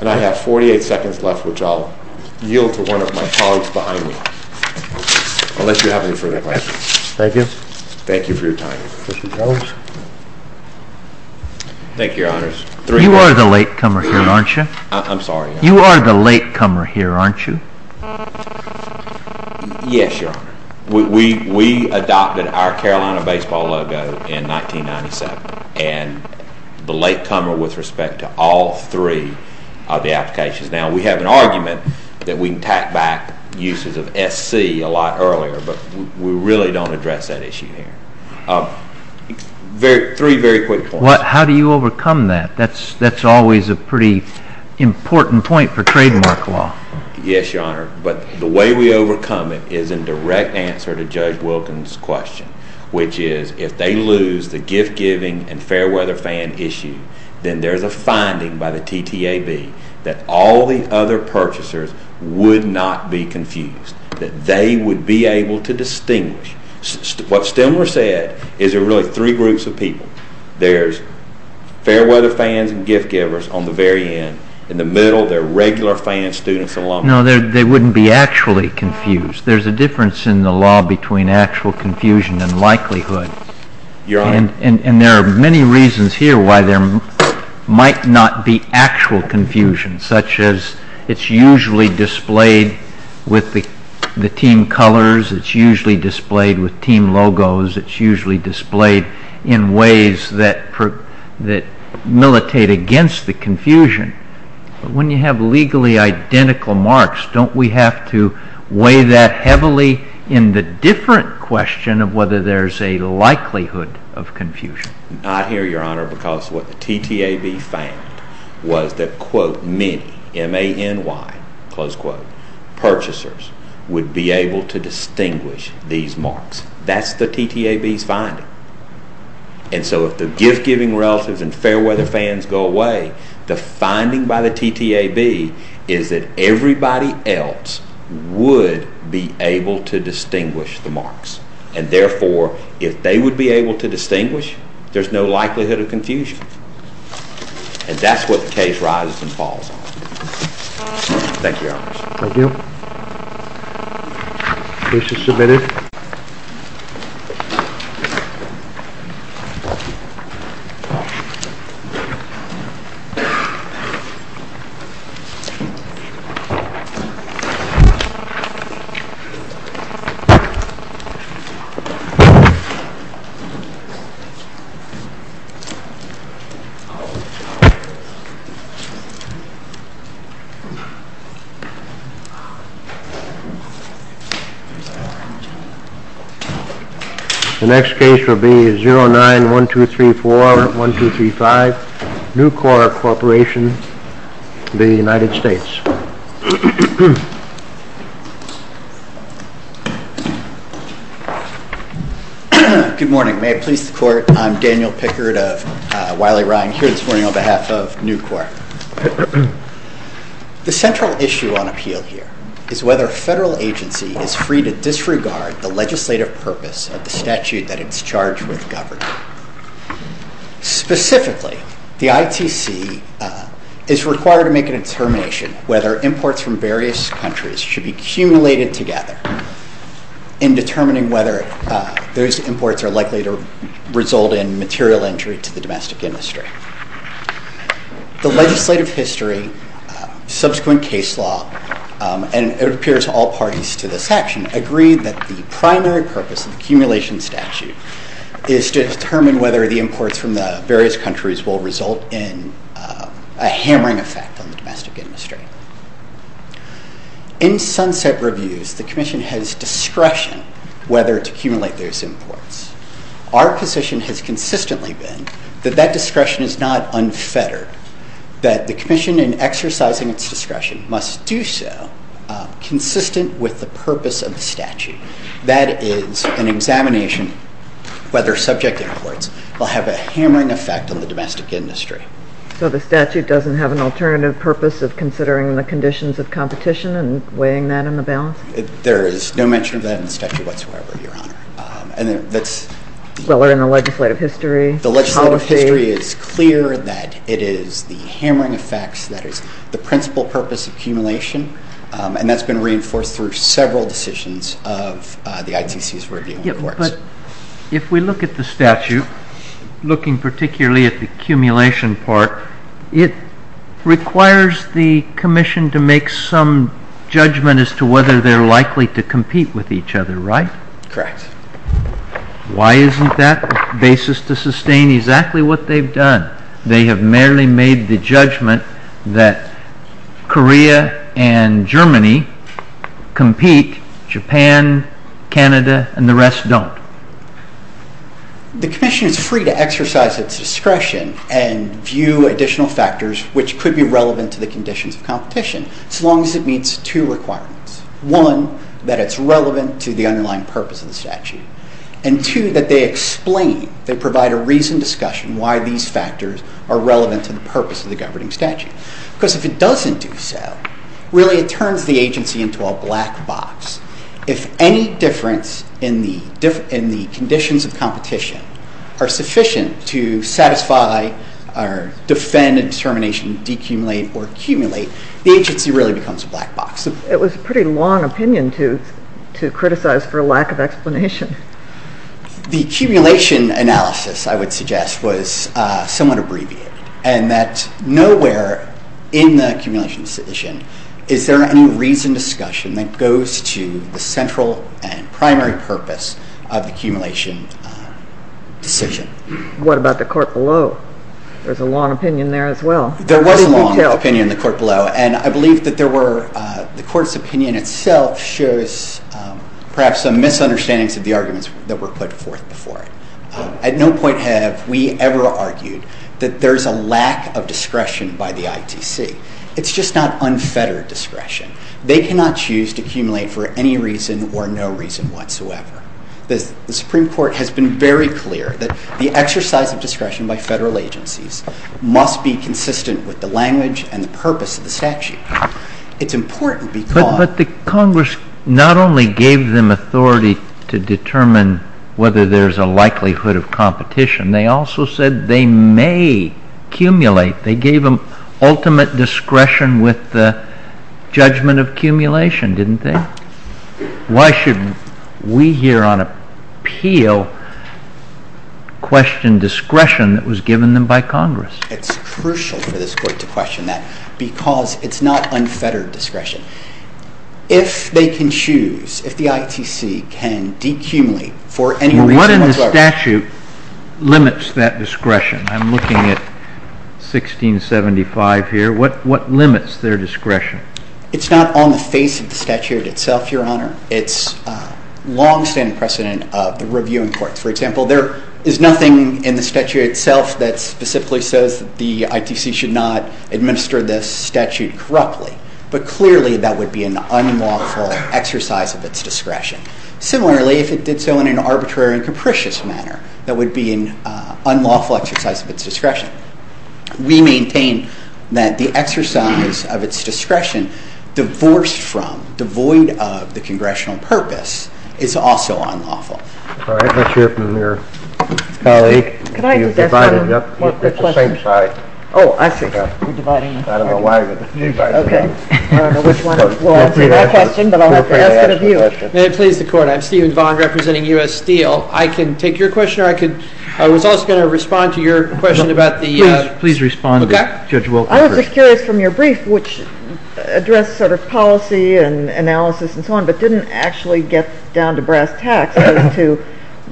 And I have 48 seconds left, which I'll yield to one of my colleagues behind me, unless you have any further questions. Thank you. Thank you for your time. Thank you, Your Honors. You are the latecomer here, aren't you? I'm sorry. You are the latecomer here, aren't you? Yes, Your Honor. We adopted our Carolina baseball logo in 1997, and the latecomer with respect to all three of the applications. Now, we have an argument that we can tack back uses of SC a lot earlier, but we really don't address that issue here. Three very quick points. How do you overcome that? That's always a pretty important point for trademark law. Yes, Your Honor. But the way we overcome it is in direct answer to Judge Wilkins' question, which is if they lose the gift-giving and fair-weather fan issue, then there's a finding by the TTAB that all the other purchasers would not be confused, that they would be able to distinguish. What Stimler said is there are really three groups of people. There's fair-weather fans and gift-givers on the very end. In the middle, there are regular fan students and alumni. No, they wouldn't be actually confused. There's a difference in the law between actual confusion and likelihood. Your Honor. And there are many reasons here why there might not be actual confusion, such as it's usually displayed with the team colors. It's usually displayed with team logos. It's usually displayed in ways that militate against the confusion. But when you have legally identical marks, don't we have to weigh that heavily in the different question of whether there's a likelihood of confusion? I hear you, Your Honor, because what the TTAB found was that, quote, many, M-A-N-Y, close quote, purchasers would be able to distinguish these marks. That's the TTAB's finding. And so if the gift-giving relatives and fair-weather fans go away, the finding by the TTAB is that everybody else would be able to distinguish the marks. And therefore, if they would be able to distinguish, there's no likelihood of confusion. And that's what the case rises and falls on. Thank you, Your Honor. Thank you. Case is submitted. The next case will be 09-1234-1235, Nucor Corporation of the United States. Good morning. May it please the Court, I'm Daniel Pickard of Wiley-Ryan here this morning on behalf of Nucor. The central issue on appeal here is whether a federal agency is free to disregard the legislative purpose of the statute that it's charged with governing. Specifically, the ITC is required to make a determination whether imports from various countries should be cumulated together in determining whether those imports are likely to result in material injury to the domestic industry. The legislative history, subsequent case law, and it appears to all parties to this action, agree that the primary purpose of the cumulation statute is to determine whether the imports from the various countries will result in a hammering effect on the domestic industry. In Sunset Reviews, the Commission has discretion whether to cumulate those imports. Our position has consistently been that that discretion is not unfettered, that the Commission in exercising its discretion must do so consistent with the purpose of the statute. That is, an examination whether subject imports will have a hammering effect on the domestic industry. So the statute doesn't have an alternative purpose of considering the conditions of competition and weighing that in the balance? There is no mention of that in the statute whatsoever, Your Honor. Well, or in the legislative history? The legislative history is clear that it is the hammering effects that is the principal purpose of cumulation, and that's been reinforced through several decisions of the ITC's review in the courts. But if we look at the statute, looking particularly at the cumulation part, it requires the Commission to make some judgment as to whether they are likely to compete with each other, right? Correct. Why isn't that the basis to sustain exactly what they've done? They have merely made the judgment that Korea and Germany compete, Japan, Canada, and the rest don't. The Commission is free to exercise its discretion and view additional factors which could be relevant to the conditions of competition, as long as it meets two requirements. One, that it's relevant to the underlying purpose of the statute. And two, that they explain, they provide a reasoned discussion why these factors are relevant to the purpose of the governing statute. Because if it doesn't do so, really it turns the agency into a black box. If any difference in the conditions of competition are sufficient to satisfy or defend a determination to decumulate or cumulate, the agency really becomes a black box. It was a pretty long opinion to criticize for lack of explanation. The cumulation analysis, I would suggest, was somewhat abbreviated, and that nowhere in the cumulation decision is there any reasoned discussion that goes to the central and primary purpose of the cumulation decision. What about the court below? There's a long opinion there as well. There was a long opinion in the court below, and I believe that the court's opinion itself shows perhaps some misunderstandings of the arguments that were put forth before it. At no point have we ever argued that there's a lack of discretion by the ITC. It's just not unfettered discretion. They cannot choose to cumulate for any reason or no reason whatsoever. The Supreme Court has been very clear that the exercise of discretion by federal agencies must be consistent with the language and the purpose of the statute. It's important because— But the Congress not only gave them authority to determine whether there's a likelihood of competition. They also said they may cumulate. They gave them ultimate discretion with the judgment of cumulation, didn't they? Why should we here on appeal question discretion that was given them by Congress? It's crucial for this court to question that because it's not unfettered discretion. If they can choose, if the ITC can decumulate for any reason whatsoever— What in the statute limits that discretion? I'm looking at 1675 here. What limits their discretion? It's not on the face of the statute itself, Your Honor. It's a long-standing precedent of the reviewing courts. For example, there is nothing in the statute itself that specifically says that the ITC should not administer this statute corruptly. But clearly, that would be an unlawful exercise of its discretion. Similarly, if it did so in an arbitrary and capricious manner, that would be an unlawful exercise of its discretion. We maintain that the exercise of its discretion, divorced from, devoid of the Congressional purpose, is also unlawful. May it please the Court, I'm Stephen Vaughn, representing U.S. Steel. I can take your question, or I was also going to respond to your question about the— Please respond to Judge Wilk first. I was just curious from your brief, which addressed sort of policy and analysis and so on, but didn't actually get down to brass tacks as to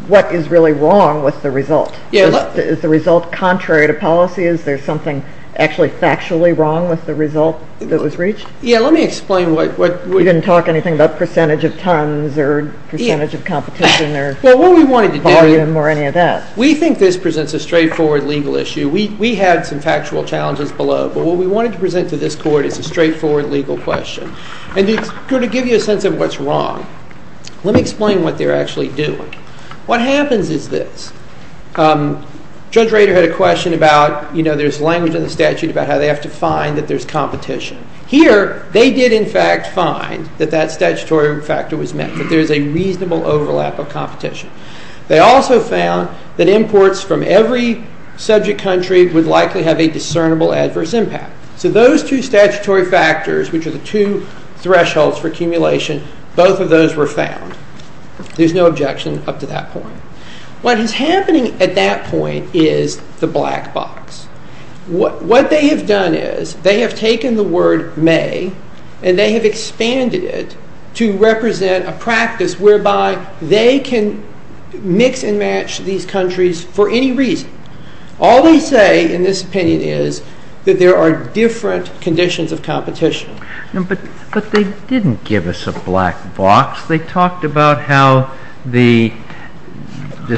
what is really wrong with the result. Is the result contrary to policy? Is there something actually factually wrong with the result that was reached? Yeah, let me explain what— You didn't talk anything about percentage of tons or percentage of competition or— Well, what we wanted to do— Volume or any of that. We think this presents a straightforward legal issue. We had some factual challenges below, but what we wanted to present to this Court is a straightforward legal question. And it's going to give you a sense of what's wrong. Let me explain what they're actually doing. What happens is this. Judge Rader had a question about, you know, there's language in the statute about how they have to find that there's competition. Here, they did in fact find that that statutory factor was met, that there's a reasonable overlap of competition. They also found that imports from every subject country would likely have a discernible adverse impact. So those two statutory factors, which are the two thresholds for accumulation, both of those were found. There's no objection up to that point. What is happening at that point is the black box. What they have done is they have taken the word may and they have expanded it to represent a practice whereby they can mix and match these countries for any reason. All they say in this opinion is that there are different conditions of competition. But they didn't give us a black box. They talked about how the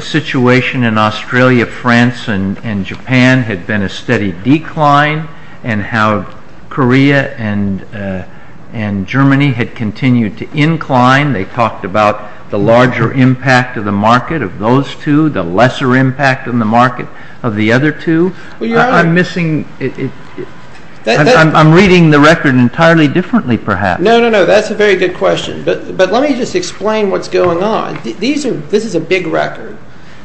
situation in Australia, France, and Japan had been a steady decline and how Korea and Germany had continued to incline. They talked about the larger impact of the market of those two, the lesser impact on the market of the other two. I'm reading the record entirely differently perhaps. No, no, no, that's a very good question. But let me just explain what's going on. This is a big record.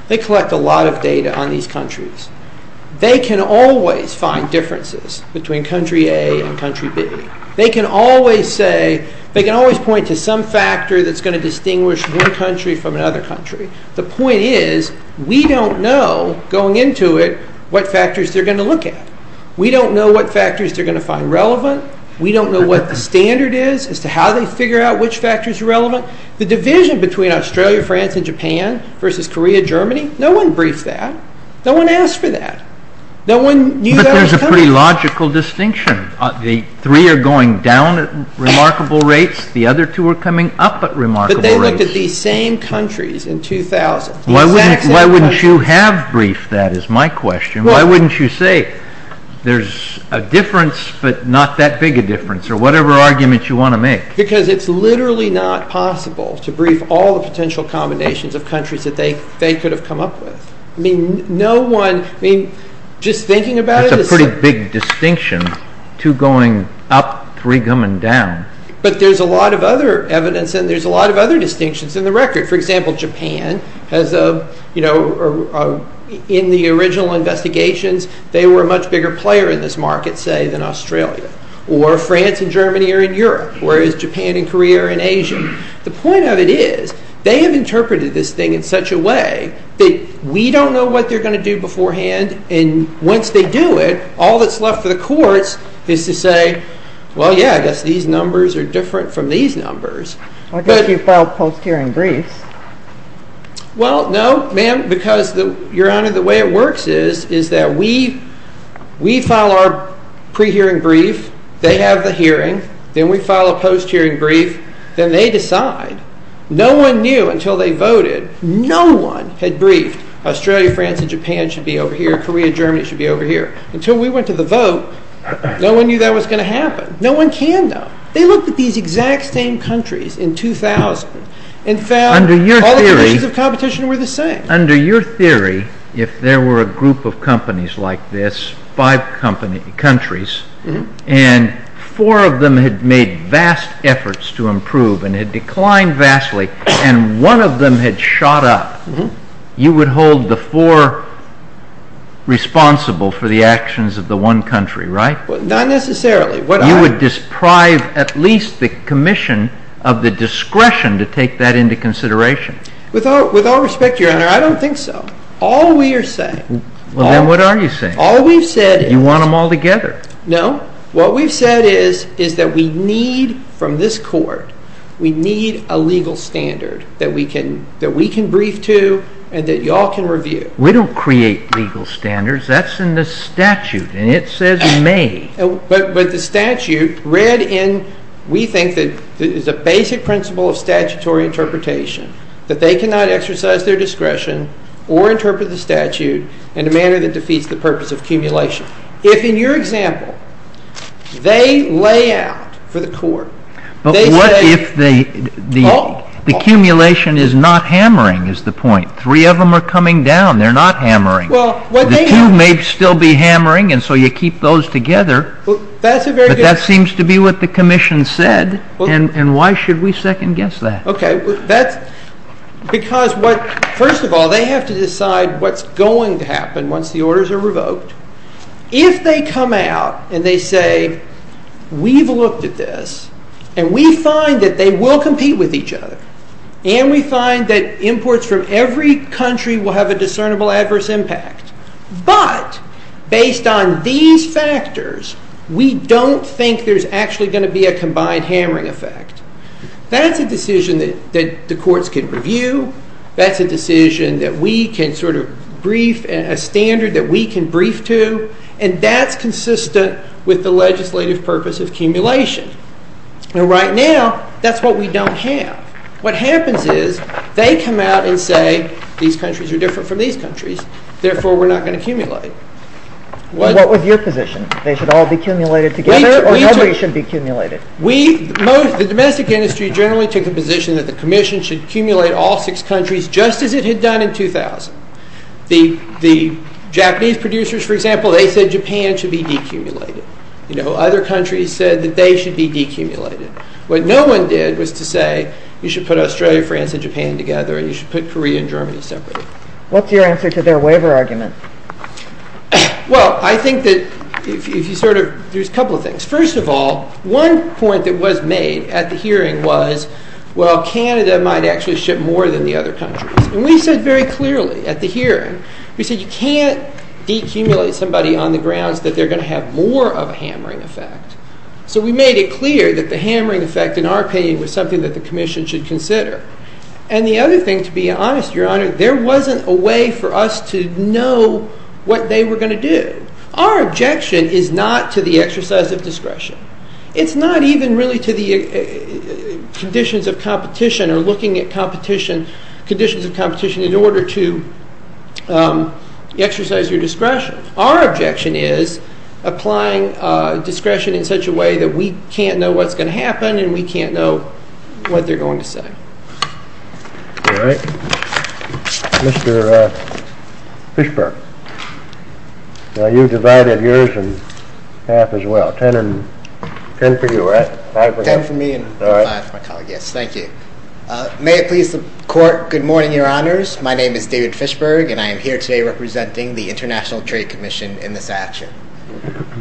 They collect a lot of data on these countries. They can always find differences between country A and country B. They can always point to some factor that's going to distinguish one country from another country. The point is we don't know, going into it, what factors they're going to look at. We don't know what factors they're going to find relevant. We don't know what the standard is as to how they figure out which factors are relevant. The division between Australia, France, and Japan versus Korea, Germany, no one briefed that. No one asked for that. No one knew that was coming. But there's a pretty logical distinction. The three are going down at remarkable rates. The other two are coming up at remarkable rates. But they looked at these same countries in 2000. Why wouldn't you have briefed that is my question. Why wouldn't you say there's a difference but not that big a difference or whatever argument you want to make. Because it's literally not possible to brief all the potential combinations of countries that they could have come up with. Just thinking about it. It's a pretty big distinction. Two going up, three coming down. But there's a lot of other evidence and there's a lot of other distinctions in the record. For example, Japan, in the original investigations, they were a much bigger player in this market, say, than Australia. Or France and Germany are in Europe, whereas Japan and Korea are in Asia. The point of it is they have interpreted this thing in such a way that we don't know what they're going to do beforehand. And once they do it, all that's left for the courts is to say, well, yeah, I guess these numbers are different from these numbers. I guess you filed post-hearing briefs. Well, no, ma'am, because, Your Honor, the way it works is that we file our pre-hearing brief. They have the hearing. Then we file a post-hearing brief. Then they decide. No one knew until they voted. No one had briefed Australia, France, and Japan should be over here. Korea, Germany should be over here. Until we went to the vote, no one knew that was going to happen. No one can know. They looked at these exact same countries in 2000 and found all the conditions of competition were the same. Under your theory, if there were a group of companies like this, five countries, and four of them had made vast efforts to improve and had declined vastly, and one of them had shot up, you would hold the four responsible for the actions of the one country, right? Not necessarily. You would deprive at least the commission of the discretion to take that into consideration. With all respect, Your Honor, I don't think so. All we are saying— Well, then what are you saying? All we've said is— You want them all together. No. What we've said is that we need, from this Court, we need a legal standard that we can brief to and that you all can review. We don't create legal standards. That's in the statute, and it says you may. But the statute read in, we think, is a basic principle of statutory interpretation, that they cannot exercise their discretion or interpret the statute in a manner that defeats the purpose of accumulation. If, in your example, they lay out for the Court— But what if the accumulation is not hammering, is the point? Three of them are coming down. They're not hammering. The two may still be hammering, and so you keep those together. But that seems to be what the commission said, and why should we second-guess that? Okay. Because, first of all, they have to decide what's going to happen once the orders are revoked. If they come out and they say, we've looked at this, and we find that they will compete with each other, and we find that imports from every country will have a discernible adverse impact, but, based on these factors, we don't think there's actually going to be a combined hammering effect, that's a decision that the courts can review. That's a decision that we can sort of brief, a standard that we can brief to, and that's consistent with the legislative purpose of accumulation. And right now, that's what we don't have. What happens is they come out and say, these countries are different from these countries, therefore we're not going to accumulate. What was your position? They should all be accumulated together, or nobody should be accumulated? The domestic industry generally took the position that the commission should accumulate all six countries, just as it had done in 2000. The Japanese producers, for example, they said Japan should be decumulated. Other countries said that they should be decumulated. What no one did was to say you should put Australia, France, and Japan together, and you should put Korea and Germany separately. What's your answer to their waiver argument? Well, I think that if you sort of, there's a couple of things. First of all, one point that was made at the hearing was, well, Canada might actually ship more than the other countries. And we said very clearly at the hearing, we said you can't decumulate somebody on the grounds that they're going to have more of a hammering effect. So we made it clear that the hammering effect, in our opinion, was something that the commission should consider. And the other thing, to be honest, Your Honor, there wasn't a way for us to know what they were going to do. Our objection is not to the exercise of discretion. It's not even really to the conditions of competition or looking at conditions of competition in order to exercise your discretion. Our objection is applying discretion in such a way that we can't know what's going to happen and we can't know what they're going to say. All right. Mr. Fishberg, you divided yours in half as well. Ten for you, right? Five for you? Ten for me and five for my colleague, yes. Thank you. May it please the Court, good morning, Your Honors. My name is David Fishberg, and I am here today representing the International Trade Commission in this action.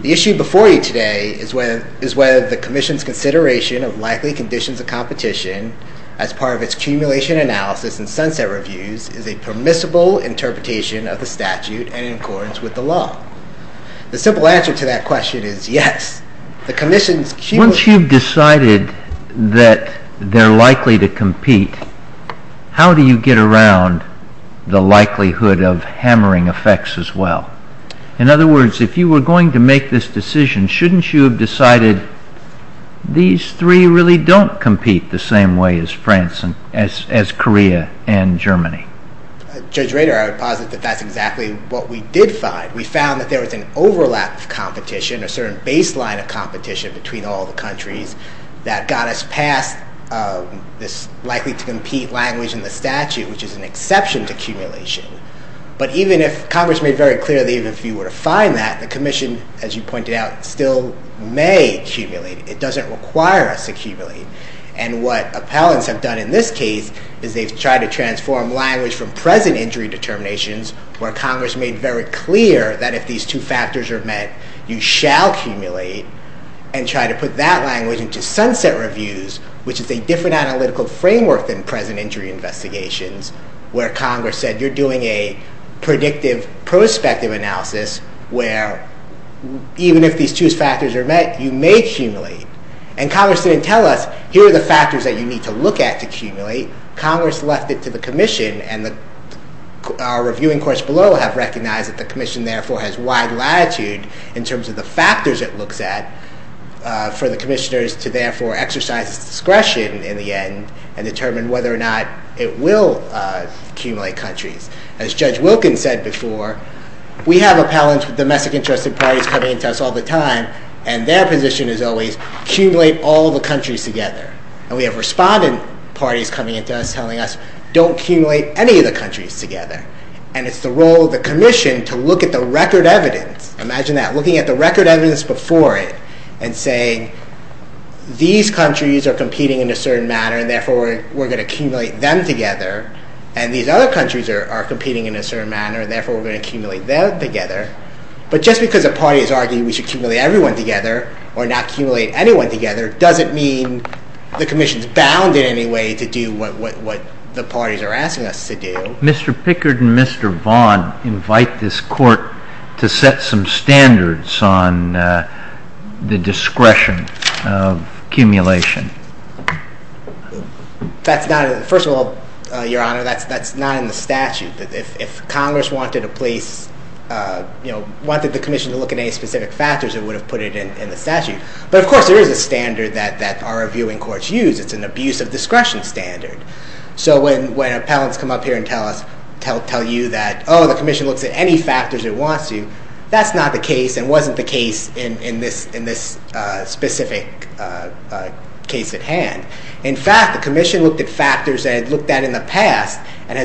The issue before you today is whether the commission's consideration of likely conditions of competition as part of its accumulation analysis and sunset reviews is a permissible interpretation of the statute and in accordance with the law. The simple answer to that question is yes. Once you've decided that they're likely to compete, how do you get around the likelihood of hammering effects as well? In other words, if you were going to make this decision, shouldn't you have decided these three really don't compete the same way as Korea and Germany? Judge Rader, I would posit that that's exactly what we did find. We found that there was an overlap of competition, a certain baseline of competition between all the countries that got us past this likely-to-compete language in the statute, which is an exception to accumulation. But even if Congress made very clear that even if you were to find that, the commission, as you pointed out, still may accumulate. It doesn't require us to accumulate. And what appellants have done in this case is they've tried to transform language from present injury determinations, where Congress made very clear that if these two factors are met, you shall accumulate, and try to put that language into sunset reviews, which is a different analytical framework than present injury investigations, where Congress said you're doing a predictive prospective analysis where even if these two factors are met, you may accumulate. And Congress didn't tell us, here are the factors that you need to look at to accumulate. Congress left it to the commission, and our reviewing course below have recognized that the commission therefore has wide latitude in terms of the factors it looks at for the commissioners to therefore exercise discretion in the end and determine whether or not it will accumulate countries. As Judge Wilkins said before, we have appellants with domestic-interested parties coming into us all the time, and their position is always accumulate all the countries together. And we have respondent parties coming into us telling us don't accumulate any of the countries together. And it's the role of the commission to look at the record evidence. Imagine that, looking at the record evidence before it and saying these countries are competing in a certain manner and therefore we're going to accumulate them together, and these other countries are competing in a certain manner and therefore we're going to accumulate them together. But just because a party has argued we should accumulate everyone together or not accumulate anyone together doesn't mean the commission is bound in any way to do what the parties are asking us to do. Mr. Pickard and Mr. Vaughan invite this court to set some standards on the discretion of accumulation. First of all, Your Honor, that's not in the statute. If Congress wanted the commission to look at any specific factors it would have put it in the statute. But of course there is a standard that our reviewing courts use. It's an abuse of discretion standard. So when appellants come up here and tell you that the commission looks at any factors it wants to, that's not the case and wasn't the case in this specific case at hand. In fact, the commission looked at factors that it looked at in the past and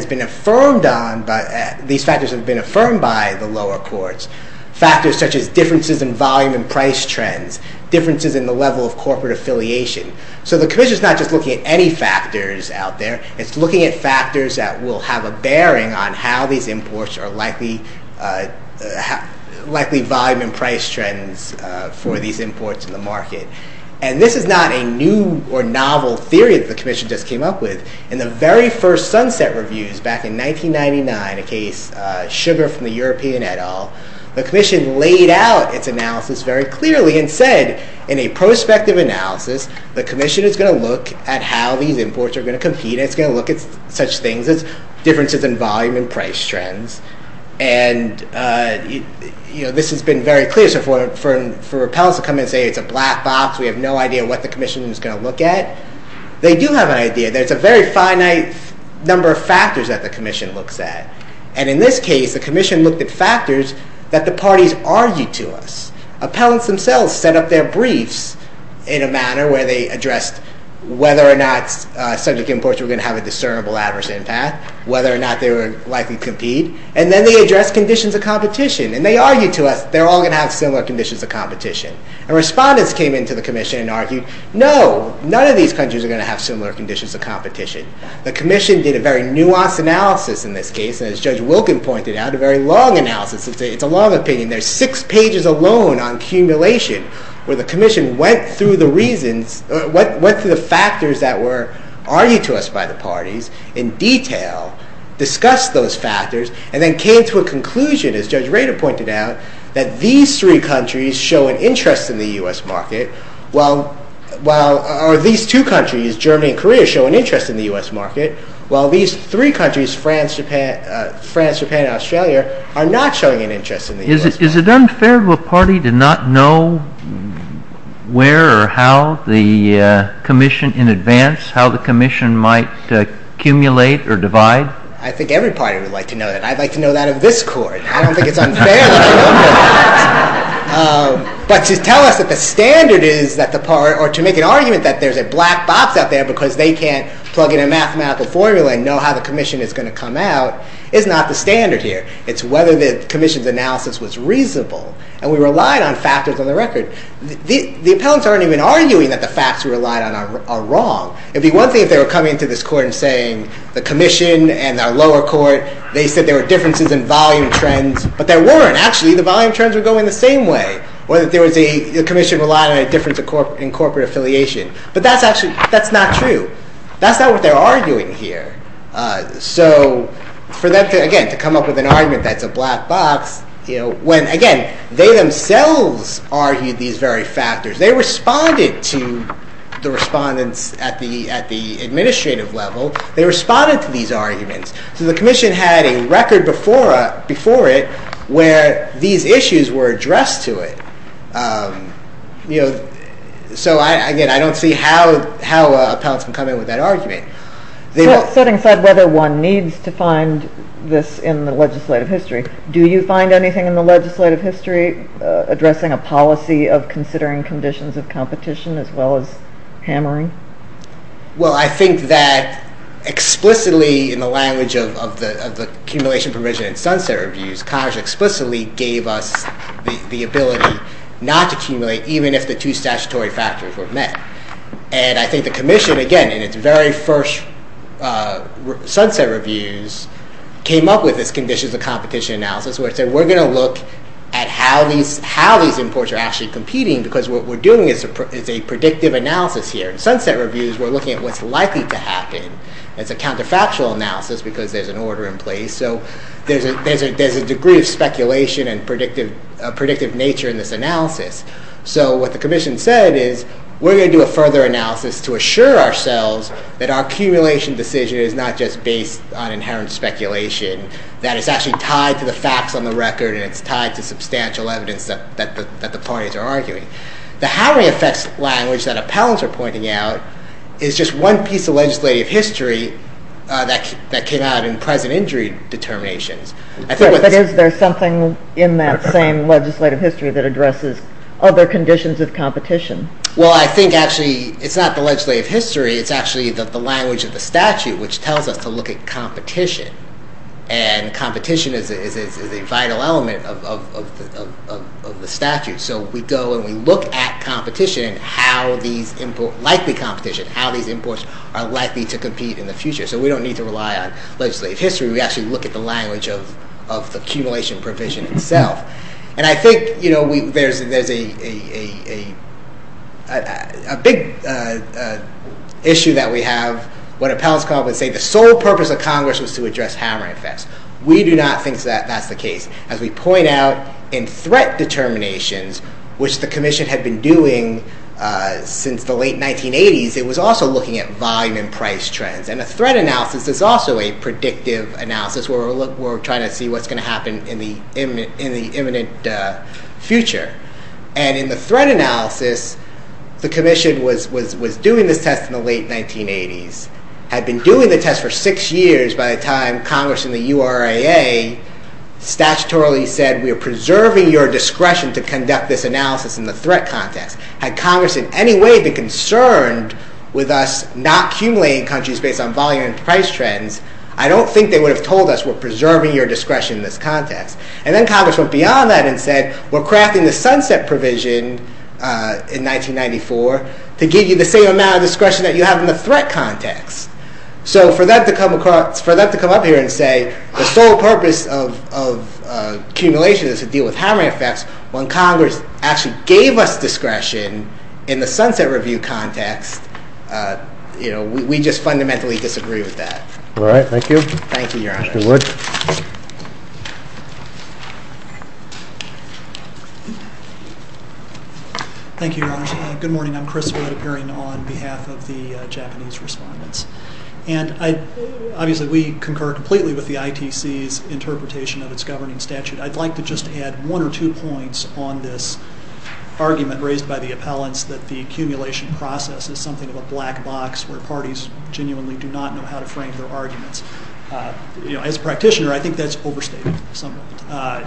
these factors have been affirmed by the lower courts. Factors such as differences in volume and price trends, differences in the level of corporate affiliation. So the commission is not just looking at any factors out there, it's looking at factors that will have a bearing on how these imports are likely volume and price trends for these imports in the market. And this is not a new or novel theory that the commission just came up with. In the very first Sunset Reviews back in 1999, a case Sugar from the European et al., the commission laid out its analysis very clearly and said in a prospective analysis the commission is going to look at how these imports are going to compete. It's going to look at such things as differences in volume and price trends. And this has been very clear. So for appellants to come in and say it's a black box, we have no idea what the commission is going to look at, they do have an idea that it's a very finite number of factors that the commission looks at. And in this case, the commission looked at factors that the parties argued to us. Appellants themselves set up their briefs in a manner where they addressed whether or not subject imports were going to have a discernible adverse impact, whether or not they were likely to compete, and then they addressed conditions of competition. And they argued to us they're all going to have similar conditions of competition. And respondents came into the commission and argued, no, none of these countries are going to have similar conditions of competition. The commission did a very nuanced analysis in this case, and as Judge Wilken pointed out, a very long analysis. It's a long opinion. There's six pages alone on accumulation where the commission went through the reasons, went through the factors that were argued to us by the parties in detail, discussed those factors, and then came to a conclusion, as Judge Rader pointed out, that these three countries show an interest in the U.S. market, or these two countries, Germany and Korea, show an interest in the U.S. market, while these three countries, France, Japan, and Australia, are not showing an interest in the U.S. market. Is it unfair to a party to not know where or how the commission in advance, how the commission might accumulate or divide? I think every party would like to know that. I'd like to know that of this court. I don't think it's unfair to know that. But to tell us that the standard is that the party, or to make an argument that there's a black box out there because they can't plug in a mathematical formula and know how the commission is going to come out is not the standard here. It's whether the commission's analysis was reasonable. And we relied on factors on the record. The appellants aren't even arguing that the facts we relied on are wrong. It'd be one thing if they were coming to this court and saying the commission and our lower court, they said there were differences in volume trends, but there weren't. Actually, the volume trends were going the same way, whether there was a commission relying on a difference in corporate affiliation. But that's not true. That's not what they're arguing here. So for them, again, to come up with an argument that's a black box, when, again, they themselves argued these very factors. They responded to the respondents at the administrative level. They responded to these arguments. So the commission had a record before it where these issues were addressed to it. So again, I don't see how appellants can come in with that argument. Setting aside whether one needs to find this in the legislative history, do you find anything in the legislative history addressing a policy of considering conditions of competition as well as hammering? Well, I think that explicitly in the language of the accumulation provision in Sunset Reviews, the ability not to accumulate even if the two statutory factors were met. And I think the commission, again, in its very first Sunset Reviews, came up with this conditions of competition analysis where it said, we're going to look at how these imports are actually competing because what we're doing is a predictive analysis here. In Sunset Reviews, we're looking at what's likely to happen. It's a counterfactual analysis because there's an order in place. So there's a degree of speculation and a predictive nature in this analysis. So what the commission said is, we're going to do a further analysis to assure ourselves that our accumulation decision is not just based on inherent speculation, that it's actually tied to the facts on the record and it's tied to substantial evidence that the parties are arguing. The how it affects language that appellants are pointing out is just one piece of legislative history that came out in present injury determinations. But is there something in that same legislative history that addresses other conditions of competition? Well, I think, actually, it's not the legislative history. It's actually the language of the statute, which tells us to look at competition. And competition is a vital element of the statute. So we go and we look at competition, how these imports, likely competition, how these imports are likely to compete in the future. So we don't need to rely on legislative history. We actually look at the language of the accumulation provision itself. And I think there's a big issue that we have when appellants come up and say, the sole purpose of Congress was to address hammering effects. We do not think that that's the case. As we point out, in threat determinations, which the commission had been doing since the late 1980s, it was also looking at volume and price trends. And a threat analysis is also a predictive analysis, where we're trying to see what's going to happen in the imminent future. And in the threat analysis, the commission was doing this test in the late 1980s, had been doing the test for six years by the time Congress and the URAA statutorily said, we are preserving your discretion to conduct this analysis in the threat context. Had Congress in any way been concerned with us not accumulating countries based on volume and price trends, I don't think they would have told us, we're preserving your discretion in this context. And then Congress went beyond that and said, we're crafting the sunset provision in 1994 to give you the same amount of discretion that you have in the threat context. So for them to come up here and say, the sole purpose of accumulation is to deal with hammering effects, when Congress actually gave us the threat context, we just fundamentally disagree with that. All right. Thank you, Your Honor. Thank you, Wood. Thank you, Your Honor. Good morning. I'm Chris Wood, appearing on behalf of the Japanese respondents. And obviously, we concur completely with the ITC's interpretation of its governing statute. I'd like to just add one or two points on this argument that I've raised by the appellants, that the accumulation process is something of a black box where parties genuinely do not know how to frame their arguments. As a practitioner, I think that's overstated somewhat.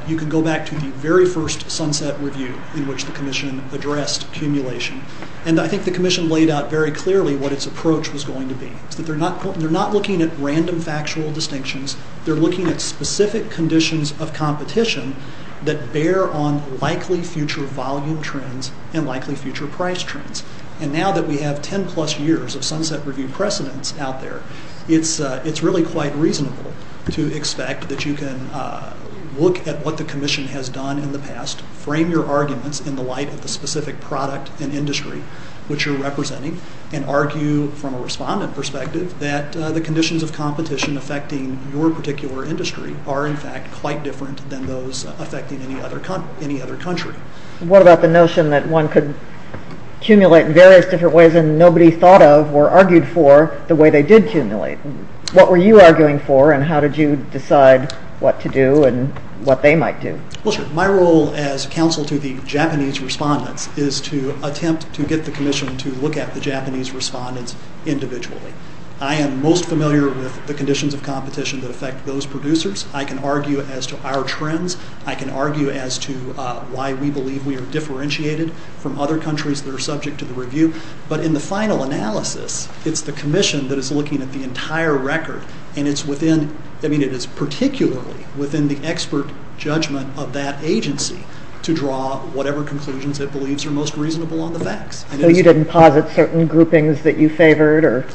You can go back to the very first sunset review in which the commission addressed accumulation. And I think the commission laid out very clearly what its approach was going to be. It's that they're not looking at random factual distinctions, they're looking at specific conditions of competition that bear on likely future volume trends and likely future price trends. And now that we have 10-plus years of sunset review precedence out there, it's really quite reasonable to expect that you can look at what the commission has done in the past, frame your arguments in the light of the specific product and industry which you're representing, and argue from a respondent perspective that the conditions of competition affecting your particular industry are in fact quite different than those affecting any other country. What about the notion that one could accumulate in various different ways and nobody thought of or argued for the way they did accumulate? What were you arguing for and how did you decide what to do and what they might do? Well, my role as counsel to the Japanese respondents is to attempt to get the commission to look at the Japanese respondents individually. I am most familiar with the conditions of competition that affect those producers. I can argue as to our trends. I can argue as to why we believe we are differentiated from other countries that are subject to the review. But in the final analysis, it's the commission that is looking at the entire record, and it is particularly within the expert judgment of that agency to draw whatever conclusions it believes are most reasonable on the facts. So you didn't posit certain groupings that you favored?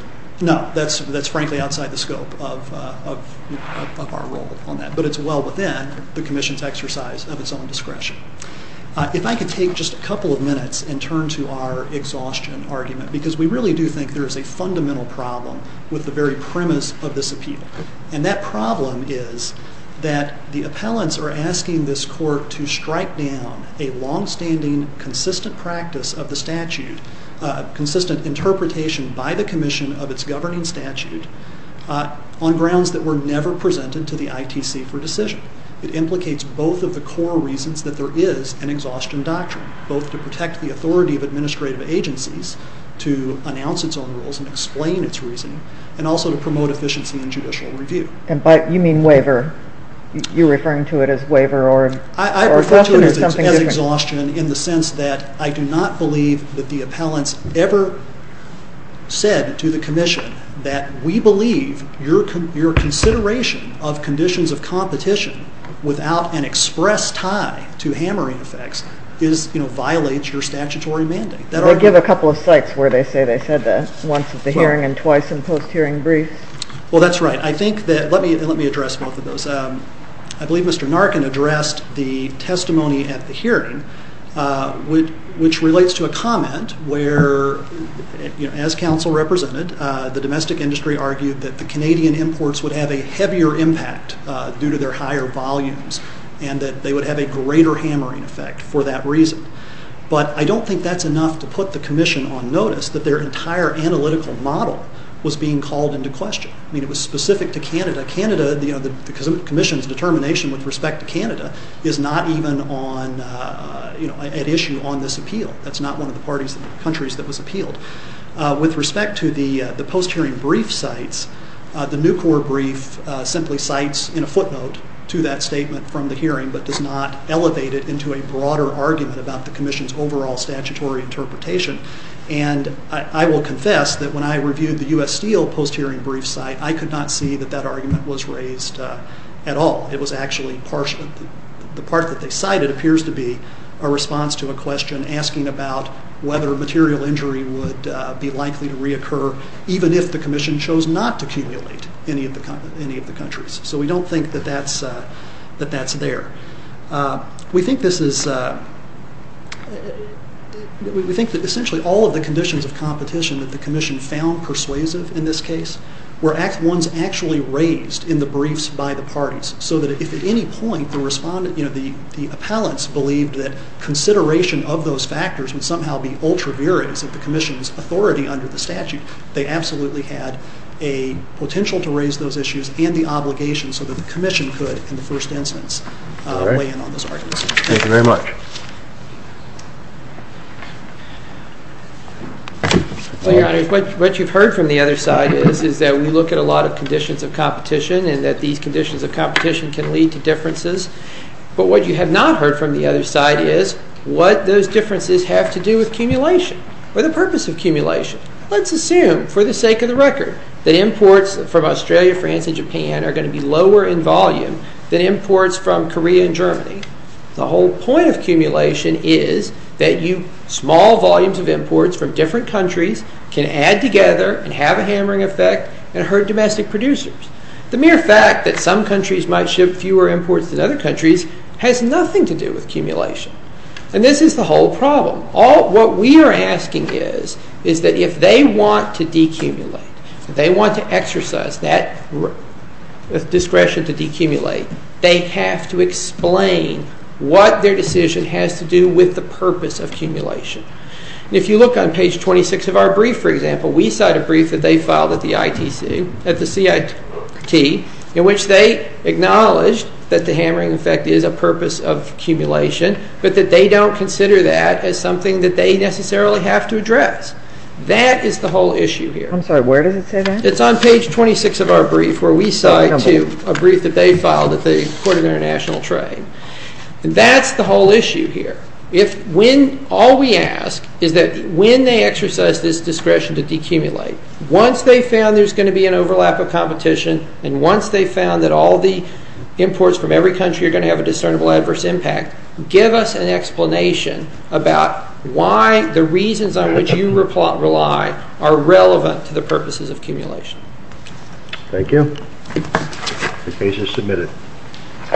No, that's frankly outside the scope of our role on that. But it's well within the commission's exercise of its own discretion. If I could take just a couple of minutes and turn to our exhaustion argument, because we really do think there is a fundamental problem with the very premise of this appeal. And that problem is that the appellants are asking this court to strike down a long-standing, consistent practice of the statute, consistent interpretation by the commission of its governing statute, on grounds that were never presented to the ITC for decision. It implicates both of the core reasons that there is an exhaustion doctrine, both to protect the authority of administrative agencies to announce its own rules and explain its reasoning, and also to promote efficiency in judicial review. But you mean waiver. You're referring to it as waiver or exhaustion? I refer to it as exhaustion in the sense that I do not believe that the appellants ever said to the commission that we believe your consideration of conditions of competition without an express tie to hammering effects violates your statutory mandate. They give a couple of sites where they say they said that, once at the hearing and twice in post-hearing briefs. Well, that's right. Let me address both of those. I believe Mr. Narcan addressed the testimony at the hearing. Which relates to a comment where, as counsel represented, the domestic industry argued that the Canadian imports would have a heavier impact due to their higher volumes and that they would have a greater hammering effect for that reason. But I don't think that's enough to put the commission on notice that their entire analytical model was being called into question. I mean, it was specific to Canada. The commission's determination with respect to Canada is not even at issue on this appeal. That's not one of the countries that was appealed. With respect to the post-hearing brief sites, the Nucor brief simply cites in a footnote to that statement from the hearing but does not elevate it into a broader argument about the commission's overall statutory interpretation. And I will confess that when I reviewed the U.S. Steel post-hearing brief site, I could not see that that argument was raised at all. The part that they cited appears to be a response to a question asking about whether material injury would be likely to reoccur even if the commission chose not to accumulate any of the countries. So we don't think that that's there. We think that essentially all of the conditions of competition that the commission found persuasive in this case were ones actually raised in the briefs by the parties so that if at any point the appellants believed that consideration of those factors would somehow be ultra viris of the commission's authority under the statute, they absolutely had a potential to raise those issues and the obligation so that the commission could, in the first instance, weigh in on those arguments. Thank you very much. Your Honor, what you've heard from the other side is that we look at a lot of conditions of competition and that these conditions of competition can lead to differences. But what you have not heard from the other side is what those differences have to do with accumulation or the purpose of accumulation. Let's assume, for the sake of the record, that imports from Australia, France, and Japan are going to be lower in volume than imports from Korea and Germany. The whole point of accumulation is that small volumes of imports from different countries can add together and have a hammering effect and hurt domestic producers. The mere fact that some countries might ship fewer imports than other countries has nothing to do with accumulation. And this is the whole problem. What we are asking is that if they want to decumulate, if they want to exercise that discretion to decumulate, they have to explain what their decision has to do with the purpose of accumulation. We cite a brief that they filed at the ITC, at the CIT, in which they acknowledged that the hammering effect is a purpose of accumulation, but that they don't consider that as something that they necessarily have to address. That is the whole issue here. I'm sorry, where does it say that? It's on page 26 of our brief, where we cite a brief that they filed at the Court of International Trade. That's the whole issue here. All we ask is that when they exercise this discretion to decumulate, once they've found there's going to be an overlap of competition and once they've found that all the imports from every country are going to have a discernible adverse impact, give us an explanation about why the reasons on which you rely are relevant to the purposes of accumulation. Thank you. The case is submitted. Thank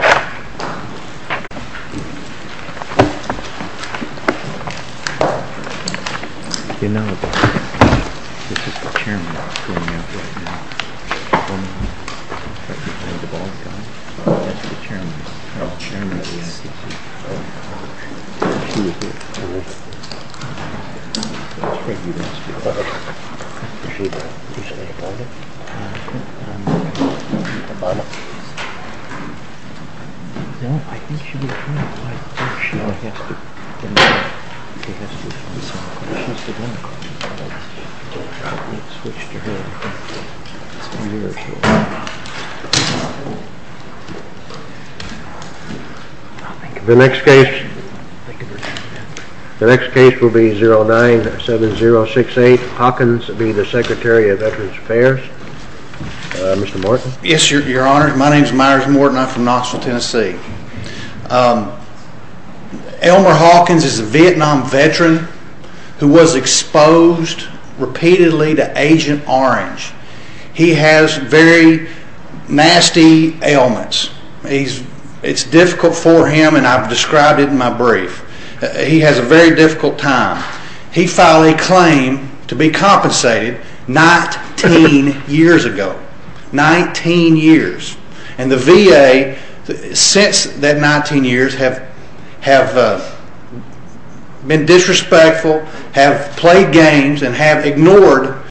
you. Thank you. The next case will be 097068. Hawkins will be the Secretary of Veterans Affairs. Mr. Morton. Yes, Your Honor. My name is Myers Morton. I'm from Knoxville, Tennessee. Elmer Hawkins is a Vietnam veteran who was exposed repeatedly to Agent Orange. He has very nasty ailments. It's difficult for him, and I've described it in my brief. He has a very difficult time. He filed a claim to be compensated 19 years ago. Nineteen years. And the VA, since that 19 years, have been disrespectful, have played games, and have ignored his claims.